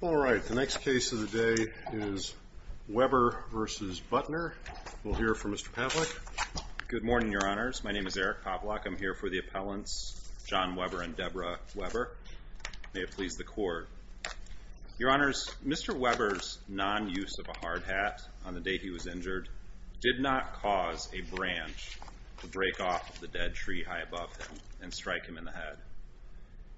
All right, the next case of the day is Webber v. Butner. We'll hear from Mr. Pavlik. Good morning, Your Honors. My name is Eric Pavlik. I'm here for the appellants John Webber and Deborah Webber. May it please the Court. Your Honors, Mr. Webber's non-use of a hard hat on the day he was injured did not cause a branch to break off of the dead tree high above him and strike him in the head.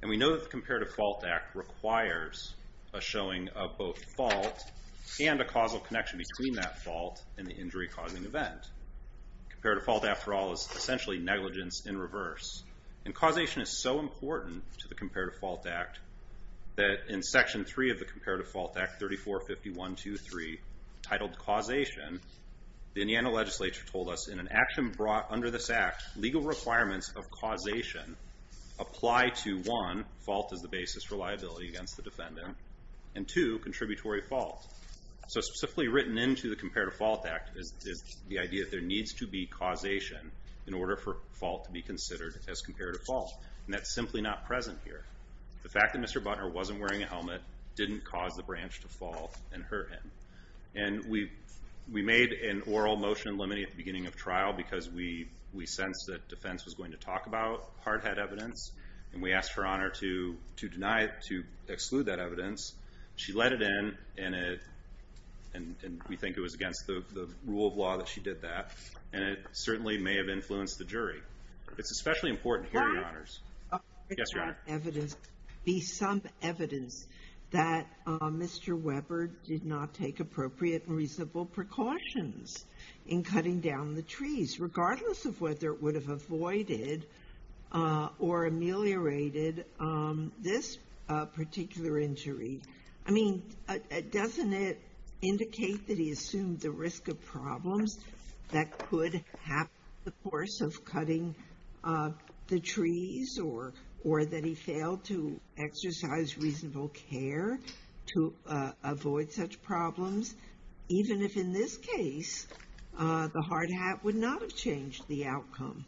And we know that the Comparative Fault Act requires a showing of both fault and a causal connection between that fault and the injury-causing event. Comparative fault, after all, is essentially negligence in reverse. And causation is so important to the Comparative Fault Act that in Section 3 of the Comparative Fault Act, 3451.2.3, titled Causation, the Indiana legislature told us, in an action brought under this Act, legal requirements of causation apply to, one, fault as the basis for liability against the defendant, and two, contributory fault. So specifically written into the Comparative Fault Act is the idea that there needs to be causation in order for fault to be considered as comparative fault. And that's simply not present here. The fact that Mr. Butner wasn't wearing a helmet didn't cause the branch to fall and hurt him. And we made an oral motion in limine at the beginning of trial because we sensed that defense was going to talk about hard-head evidence. And we asked Her Honor to deny it, to exclude that evidence. She let it in, and we think it was against the rule of law that she did that. And it certainly may have influenced the jury. It's especially important here, Your Honors. Yes, Your Honor. Be some evidence that Mr. Webber did not take appropriate and reasonable precautions in cutting down the trees, regardless of whether it would have avoided or ameliorated this particular injury. I mean, doesn't it indicate that he assumed the risk of problems that could happen the course of cutting the trees, or that he failed to exercise reasonable care to avoid such problems, even if, in this case, the hard hat would not have changed the outcome?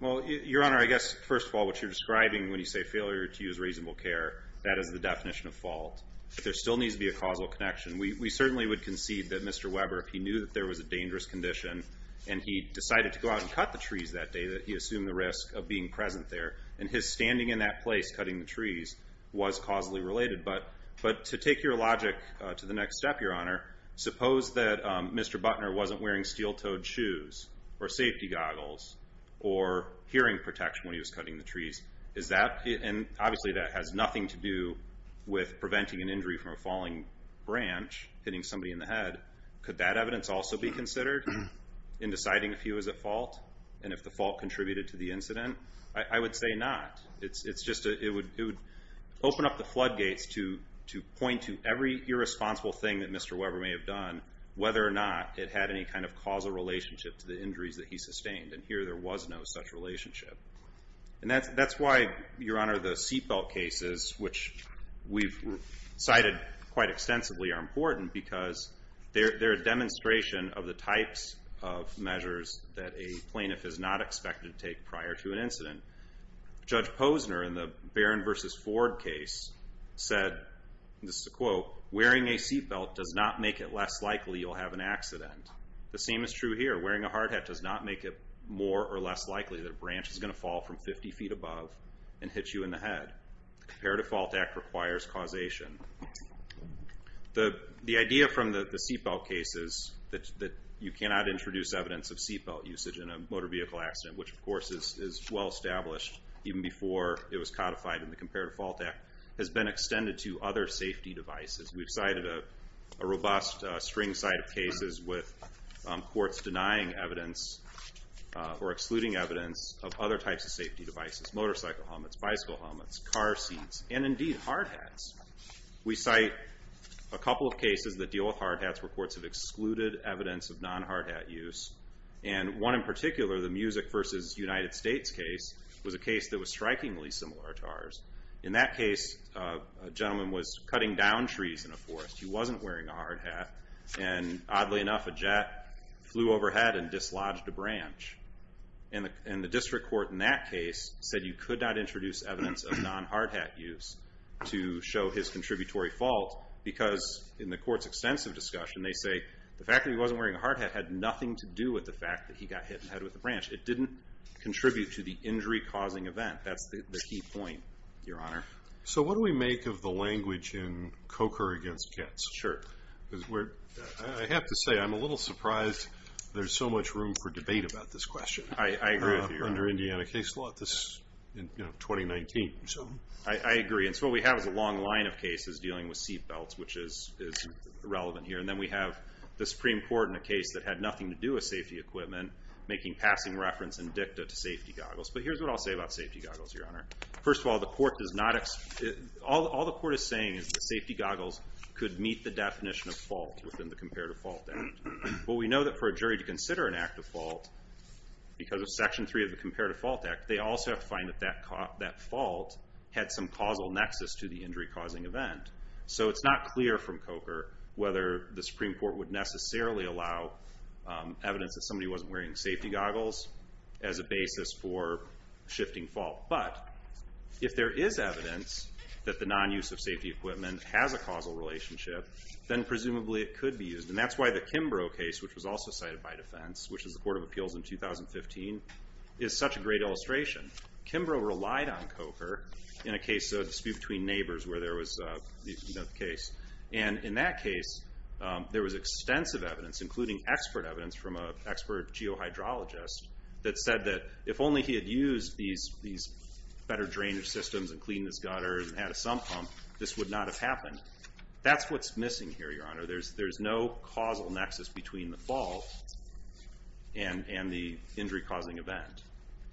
Well, Your Honor, I guess, first of all, what you're describing when you say failure to use reasonable care, that is the definition of fault. There still needs to be a causal connection. We certainly would concede that Mr. Webber, if he knew that there was a dangerous condition and he decided to go out and cut the trees that day, that he assumed the risk of being present there. And his standing in that place, cutting the trees, was causally related. But to take your logic to the next step, Your Honor, suppose that Mr. Butner wasn't wearing steel-toed shoes or safety goggles or hearing protection when he was cutting the trees. And obviously, that has nothing to do with preventing an injury from a falling branch, hitting somebody in the head. Could that evidence also be considered in deciding if he was at fault and if the fault contributed to the incident? I would say not. It would open up the floodgates to point to every irresponsible thing that Mr. Webber may have done, whether or not it had any kind of causal relationship to the injuries that he sustained. And here, there was no such relationship. And that's why, Your Honor, the seatbelt cases, which we've cited quite extensively, are important because they're a demonstration of the types of measures that a plaintiff is not expected to take prior to an incident. Judge Posner, in the Barron v. Ford case, said, and this is a quote, wearing a seatbelt does not make it less likely you'll have an accident. The same is true here. Wearing a hard hat does not make it more or less likely that a branch is going to fall from 50 feet above and hit you in the head. The Comparative Fault Act requires causation. The idea from the seatbelt cases that you cannot introduce evidence of seatbelt usage in a motor vehicle accident, which, of course, is well-established even before it was codified in the Comparative Fault Act, has been extended to other safety devices. We've cited a robust string side of cases with courts denying evidence or excluding evidence of other types of safety devices, motorcycle helmets, bicycle helmets, car seats, and indeed hard hats. We cite a couple of cases that deal with hard hats where courts have excluded evidence of non-hard hat use. And one in particular, the Music v. United States case, was a case that was strikingly similar to ours. In that case, a gentleman was cutting down trees in a forest. He wasn't wearing a hard hat. And oddly enough, a jet flew overhead and dislodged a branch. And the district court in that case said you could not introduce evidence of non-hard hat use to show his contributory fault because, in the court's extensive discussion, they say the fact that he wasn't wearing a hard hat had nothing to do with the fact that he got hit in the head with a branch. It didn't contribute to the injury-causing event. That's the key point, Your Honor. So what do we make of the language in Coker v. Kitts? Sure. I have to say I'm a little surprised there's so much room for debate about this question. I agree with you. Under Indiana case law, this is 2019. I agree. And so what we have is a long line of cases dealing with seatbelts, which is relevant here. And then we have the Supreme Court in a case that had nothing to do with safety equipment making passing reference in dicta to safety goggles. But here's what I'll say about safety goggles, Your Honor. First of all, all the court is saying is that safety goggles could meet the definition of fault within the Comparative Fault Act. But we know that for a jury to consider an act of fault because of Section 3 of the Comparative Fault Act, they also have to find that that fault had some causal nexus to the injury-causing event. So it's not clear from Coker whether the Supreme Court would necessarily allow evidence that somebody wasn't wearing safety goggles as a basis for shifting fault. But if there is evidence that the non-use of safety equipment has a causal relationship, then presumably it could be used. And that's why the Kimbrough case, which was also cited by defense, which is the Court of Appeals in 2015, is such a great illustration. Kimbrough relied on Coker in a case, a dispute between neighbors, where there was the case. And in that case, there was extensive evidence, including expert evidence from an expert geohydrologist, that said that if only he had used these better drainage systems and cleaned his gutters and had a sump pump, this would not have happened. That's what's missing here, Your Honor. There's no causal nexus between the fault and the injury-causing event.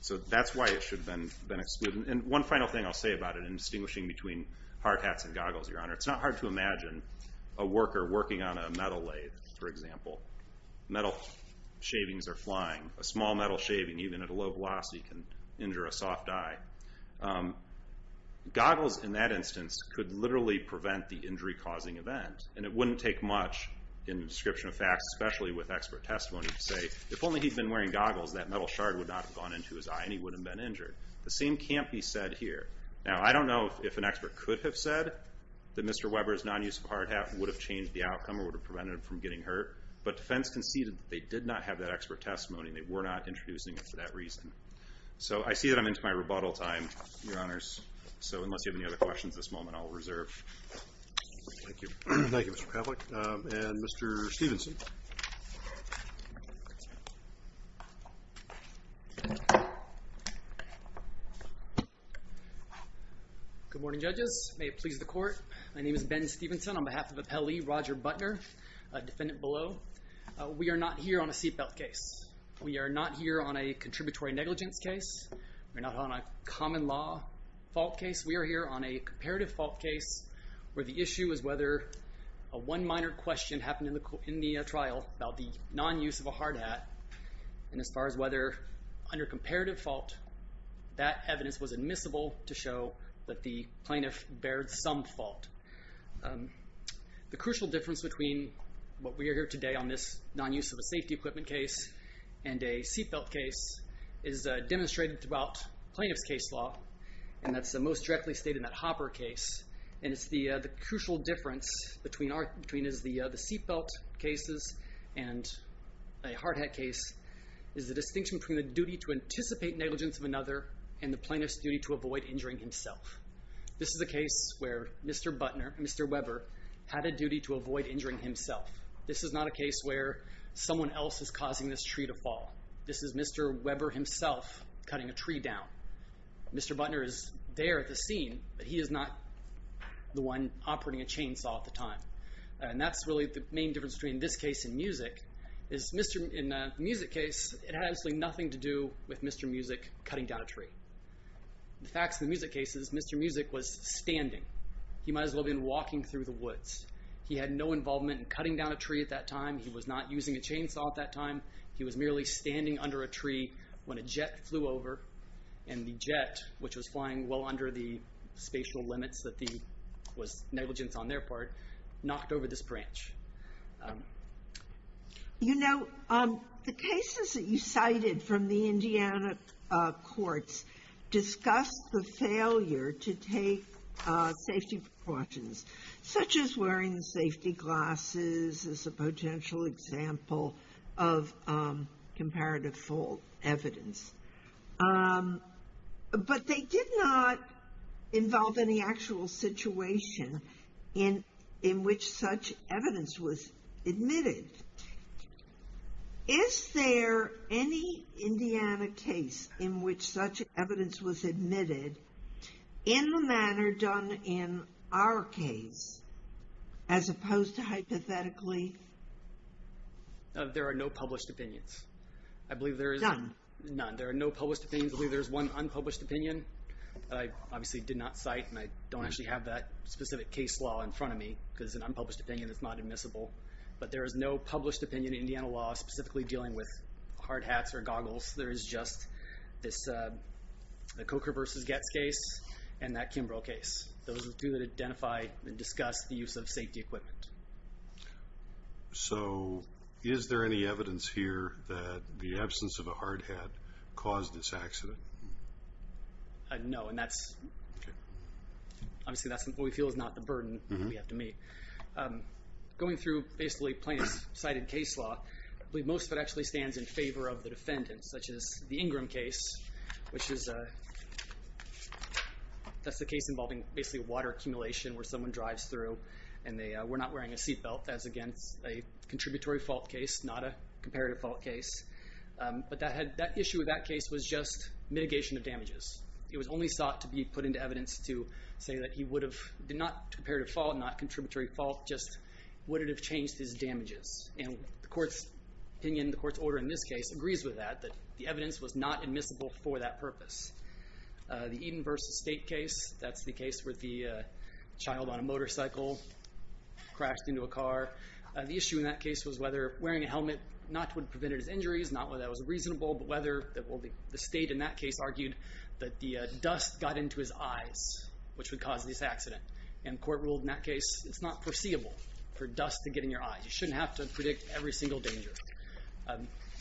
So that's why it should have been excluded. And one final thing I'll say about it in distinguishing between hard hats and goggles, Your Honor, it's not hard to imagine a worker working on a metal lathe, for example. Metal shavings are flying. A small metal shaving, even at a low velocity, can injure a soft eye. Goggles, in that instance, could literally prevent the injury-causing event. And it wouldn't take much in the description of facts, especially with expert testimony, to say if only he'd been wearing goggles, that metal shard would not have gone into his eye and he wouldn't have been injured. The same can't be said here. Now, I don't know if an expert could have said that Mr. Weber's non-use of a hard hat would have changed the outcome or would have prevented him from getting hurt. But defense conceded that they did not have that expert testimony and they were not introducing it for that reason. So I see that I'm into my rebuttal time, Your Honors. So unless you have any other questions at this moment, I'll reserve. Thank you. Thank you, Mr. Pavlik. And Mr. Stevenson. Good morning, judges. May it please the Court. My name is Ben Stevenson on behalf of Appellee Roger Butner, defendant below. We are not here on a seatbelt case. We are not here on a contributory negligence case. We're not on a common law fault case. We are here on a comparative fault case where the issue is whether a one minor question happened in the trial about the non-use of a hard hat. And as far as whether under comparative fault, that evidence was admissible to show that the plaintiff bared some fault. The crucial difference between what we are here today on this non-use of a safety equipment case and a seatbelt case is demonstrated throughout plaintiff's case law, and that's most directly stated in that Hopper case. And it's the crucial difference between the seatbelt cases and a hard hat case is the distinction between the duty to anticipate negligence of another and the plaintiff's duty to avoid injuring himself. This is a case where Mr. Butner, Mr. Weber, had a duty to avoid injuring himself. This is not a case where someone else is causing this tree to fall. This is Mr. Weber himself cutting a tree down. Mr. Butner is there at the scene, but he is not the one operating a chainsaw at the time. And that's really the main difference between this case and music. In the music case, it had absolutely nothing to do with Mr. Music cutting down a tree. The facts of the music case is Mr. Music was standing. He might as well have been walking through the woods. He had no involvement in cutting down a tree at that time. He was not using a chainsaw at that time. He was merely standing under a tree when a jet flew over, and the jet, which was flying well under the spatial limits that was negligence on their part, knocked over this branch. You know, the cases that you cited from the Indiana courts discussed the failure to take safety precautions, such as wearing safety glasses as a potential example of comparative fault evidence. But they did not involve any actual situation in which such evidence was admitted. Is there any Indiana case in which such evidence was admitted in the manner done in our case, as opposed to hypothetically? There are no published opinions. None? None. There are no published opinions. I believe there's one unpublished opinion that I obviously did not cite, and I don't actually have that specific case law in front of me, because it's an unpublished opinion that's not admissible. But there is no published opinion in Indiana law specifically dealing with hard hats or goggles. There is just the Coker v. Goetz case and that Kimbrough case. Those are the two that identify and discuss the use of safety equipment. So is there any evidence here that the absence of a hard hat caused this accident? No, and that's obviously what we feel is not the burden we have to meet. Going through basically plaintiff's cited case law, I believe most of it actually stands in favor of the defendant, such as the Ingram case, which is a case involving basically water accumulation where someone drives through and they were not wearing a seat belt. That's, again, a contributory fault case, not a comparative fault case. But that issue with that case was just mitigation of damages. It was only sought to be put into evidence to say that he would have not a comparative fault, not a contributory fault, just would it have changed his damages. And the court's opinion, the court's order in this case agrees with that, that the evidence was not admissible for that purpose. The Eden versus State case, that's the case where the child on a motorcycle crashed into a car. The issue in that case was whether wearing a helmet not would prevent his injuries, not whether that was reasonable, but whether the State in that case argued that the dust got into his eyes, which would cause this accident. And the court ruled in that case it's not foreseeable for dust to get in your eyes. You shouldn't have to predict every single danger.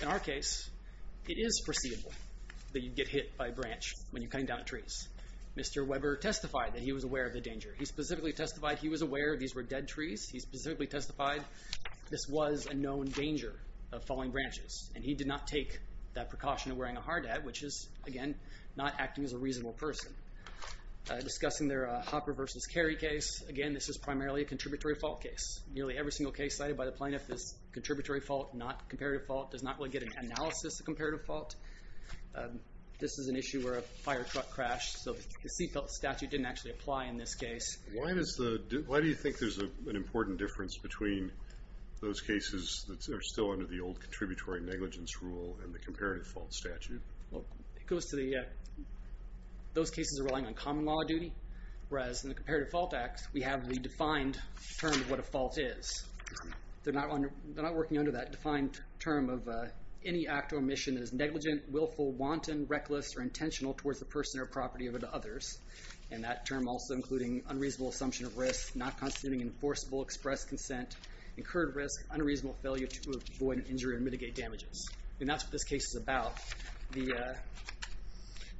In our case, it is foreseeable that you'd get hit by a branch when you're cutting down trees. Mr. Weber testified that he was aware of the danger. He specifically testified he was aware these were dead trees. He specifically testified this was a known danger of falling branches. And he did not take that precaution of wearing a hard hat, which is, again, not acting as a reasonable person. Discussing their Hopper versus Carey case, again, this is primarily a contributory fault case. Nearly every single case cited by the plaintiff is contributory fault, not comparative fault. Does not really get an analysis of comparative fault. This is an issue where a firetruck crashed, so the CFELT statute didn't actually apply in this case. Why do you think there's an important difference between those cases that are still under the old contributory negligence rule and the comparative fault statute? It goes to those cases are relying on common law duty, whereas in the Comparative Fault Act, we have the defined term of what a fault is. They're not working under that defined term of any act or mission that is negligent, willful, wanton, reckless, or intentional towards the person or property of others. And that term also including unreasonable assumption of risk, not constituting enforceable express consent, incurred risk, unreasonable failure to avoid injury and mitigate damages. And that's what this case is about.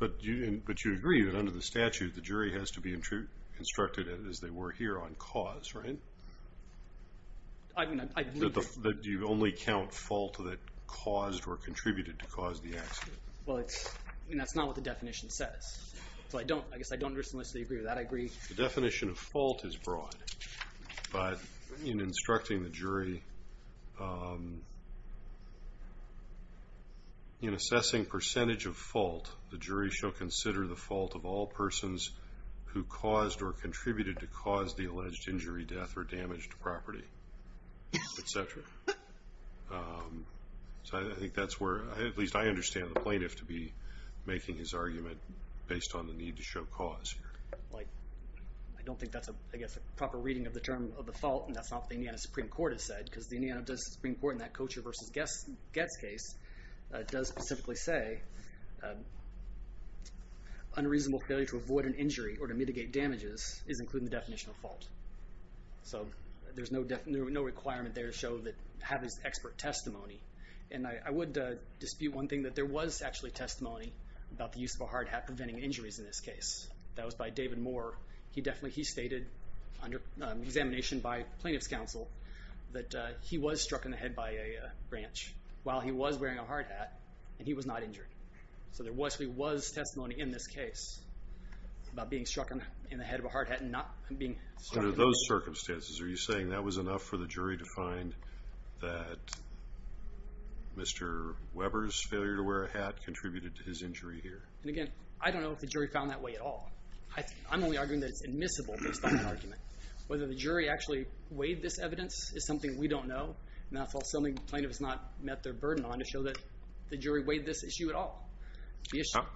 But you agree that under the statute, the jury has to be instructed as they were here on cause, right? Do you only count fault that caused or contributed to cause the accident? Well, that's not what the definition says. So I guess I don't agree with that. I agree. The definition of fault is broad, but in instructing the jury, in assessing percentage of fault, the jury shall consider the fault of all persons who caused or contributed to cause the alleged injury, death, or damaged property, etc. So I think that's where, at least I understand the plaintiff to be making his argument based on the need to show cause. I don't think that's a proper reading of the term of the fault, and that's not what the Indiana Supreme Court has said, because the Indiana Supreme Court in that Kocher v. Goetz case does specifically say unreasonable failure to avoid an injury or to mitigate damages is included in the definition of fault. So there's no requirement there to have this expert testimony. And I would dispute one thing, that there was actually testimony about the use of a hard hat preventing injuries in this case. That was by David Moore. He stated under examination by plaintiff's counsel that he was struck in the head by a branch. While he was wearing a hard hat, and he was not injured. So there actually was testimony in this case about being struck in the head of a hard hat and not being struck. Under those circumstances, are you saying that was enough for the jury to find that Mr. Weber's failure to wear a hat contributed to his injury here? And again, I don't know if the jury found that way at all. I'm only arguing that it's admissible based on that argument. Whether the jury actually weighed this evidence is something we don't know. And that's also something the plaintiff has not met their burden on to show that the jury weighed this issue at all.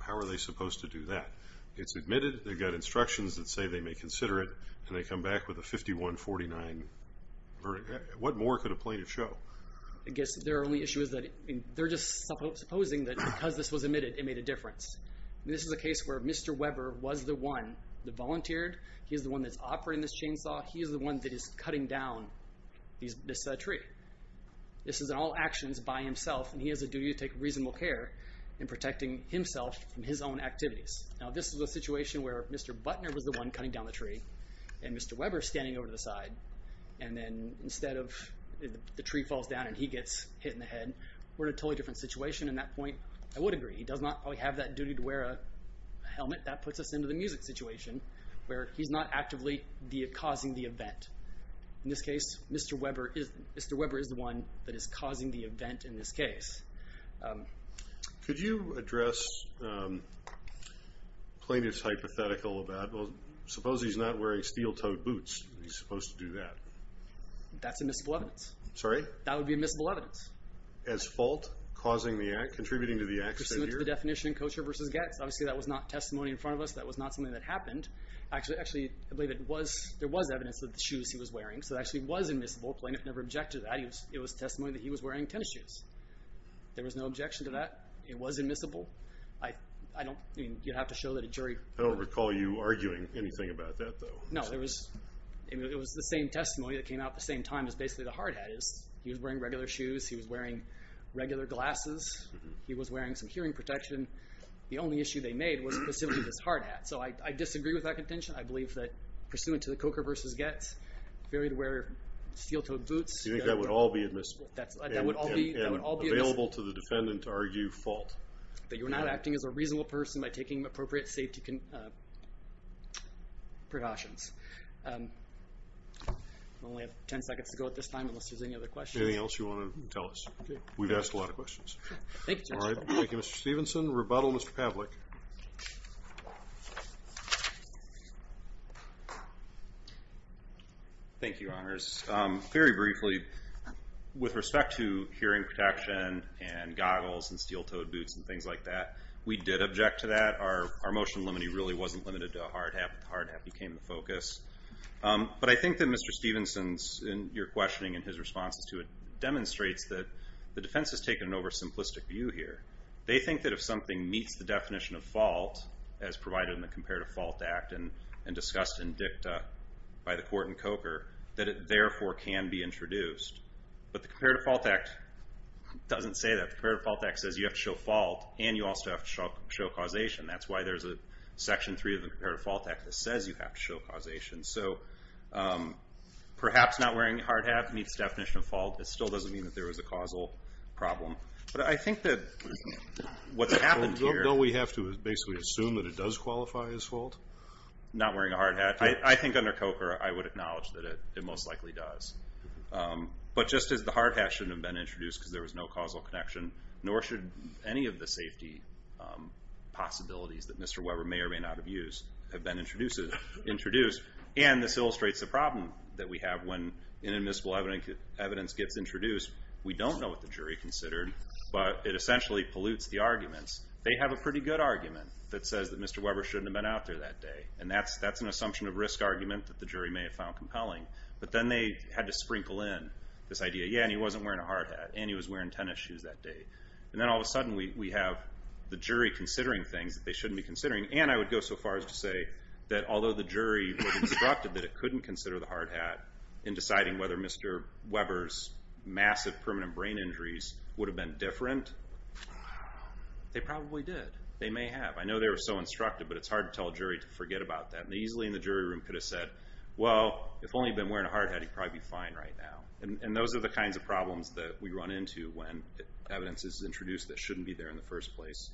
How are they supposed to do that? It's admitted, they've got instructions that say they may consider it, and they come back with a 51-49 verdict. What more could a plaintiff show? I guess their only issue is that they're just supposing that because this was admitted, it made a difference. This is a case where Mr. Weber was the one that volunteered. He's the one that's operating this chainsaw. He's the one that is cutting down this tree. This is all actions by himself, and he has a duty to take reasonable care in protecting himself from his own activities. Now, this is a situation where Mr. Butner was the one cutting down the tree, and Mr. Weber's standing over to the side, and then instead of the tree falls down and he gets hit in the head, we're in a totally different situation. At that point, I would agree. He does not have that duty to wear a helmet. That puts us into the music situation where he's not actively causing the event. In this case, Mr. Weber is the one that is causing the event in this case. Could you address plaintiff's hypothetical about, well, suppose he's not wearing steel-toed boots. He's supposed to do that. That's admissible evidence. Sorry? That would be admissible evidence. As fault, contributing to the accident here? To submit to the definition of kosher versus get. Obviously, that was not testimony in front of us. That was not something that happened. Actually, I believe there was evidence of the shoes he was wearing, so it actually was admissible. Plaintiff never objected to that. It was testimony that he was wearing tennis shoes. There was no objection to that. It was admissible. You'd have to show that a jury. I don't recall you arguing anything about that, though. No, it was the same testimony that came out at the same time as basically the hard hat is. He was wearing regular shoes. He was wearing regular glasses. He was wearing some hearing protection. The only issue they made was specifically this hard hat. So I disagree with that contention. I believe that pursuant to the kosher versus get, he was wearing steel-toed boots. You think that would all be admissible? That would all be admissible. And available to the defendant to argue fault? That you're not acting as a reasonable person by taking appropriate safety precautions. I only have 10 seconds to go at this time unless there's any other questions. Anything else you want to tell us? We've asked a lot of questions. Thank you, Judge. All right. Thank you, Mr. Stevenson. Rebuttal, Mr. Pavlik. Thank you, Your Honors. Very briefly, with respect to hearing protection and goggles and steel-toed boots and things like that, we did object to that. Our motion limiting really wasn't limited to a hard hat, but the hard hat became the focus. But I think that Mr. Stevenson's and your questioning and his responses to it demonstrates that the defense has taken an oversimplistic view here. They think that if something meets the definition of fault, as provided in the Comparative Fault Act and discussed in dicta by the court in Coker, that it therefore can be introduced. But the Comparative Fault Act doesn't say that. The Comparative Fault Act says you have to show fault, and you also have to show causation. That's why there's a Section 3 of the Comparative Fault Act that says you have to show causation. So perhaps not wearing a hard hat meets the definition of fault. It still doesn't mean that there was a causal problem. But I think that what's happened here... Don't we have to basically assume that it does qualify as fault? Not wearing a hard hat. I think under Coker I would acknowledge that it most likely does. But just as the hard hat shouldn't have been introduced because there was no causal connection, nor should any of the safety possibilities that Mr. Weber may or may not have used have been introduced. And this illustrates the problem that we have when inadmissible evidence gets introduced. We don't know what the jury considered, but it essentially pollutes the arguments. They have a pretty good argument that says that Mr. Weber shouldn't have been out there that day. And that's an assumption of risk argument that the jury may have found compelling. But then they had to sprinkle in this idea, yeah, and he wasn't wearing a hard hat, and he was wearing tennis shoes that day. And then all of a sudden we have the jury considering things that they shouldn't be considering. And I would go so far as to say that although the jury was instructed that it couldn't consider the hard hat in deciding whether Mr. Weber's massive permanent brain injuries would have been different, they probably did. They may have. I know they were so instructed, but it's hard to tell a jury to forget about that. And easily in the jury room could have said, well, if only he'd been wearing a hard hat, he'd probably be fine right now. And those are the kinds of problems that we run into when evidence is introduced that shouldn't be there in the first place.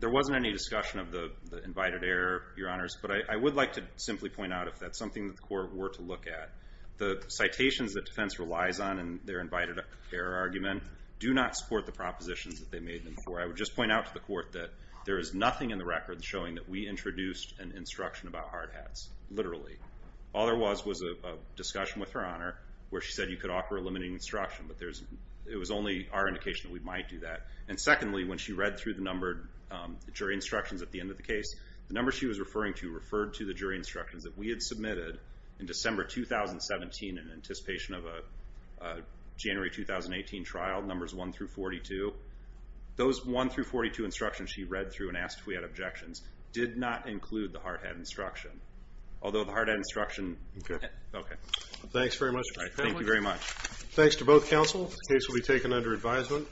There wasn't any discussion of the invited error, Your Honors, but I would like to simply point out if that's something that the court were to look at, the citations that defense relies on in their invited error argument do not support the propositions that they made before. I would just point out to the court that there is nothing in the record showing that we introduced an instruction about hard hats, literally. All there was was a discussion with Her Honor where she said you could offer a limiting instruction, but it was only our indication that we might do that. And secondly, when she read through the numbered jury instructions at the end of the case, the numbers she was referring to that we had submitted in December 2017 in anticipation of a January 2018 trial, numbers 1 through 42, those 1 through 42 instructions she read through and asked if we had objections did not include the hard hat instruction. Although the hard hat instruction... Okay. Thanks very much. Thank you very much. Thanks to both counsel. The case will be taken under advisement.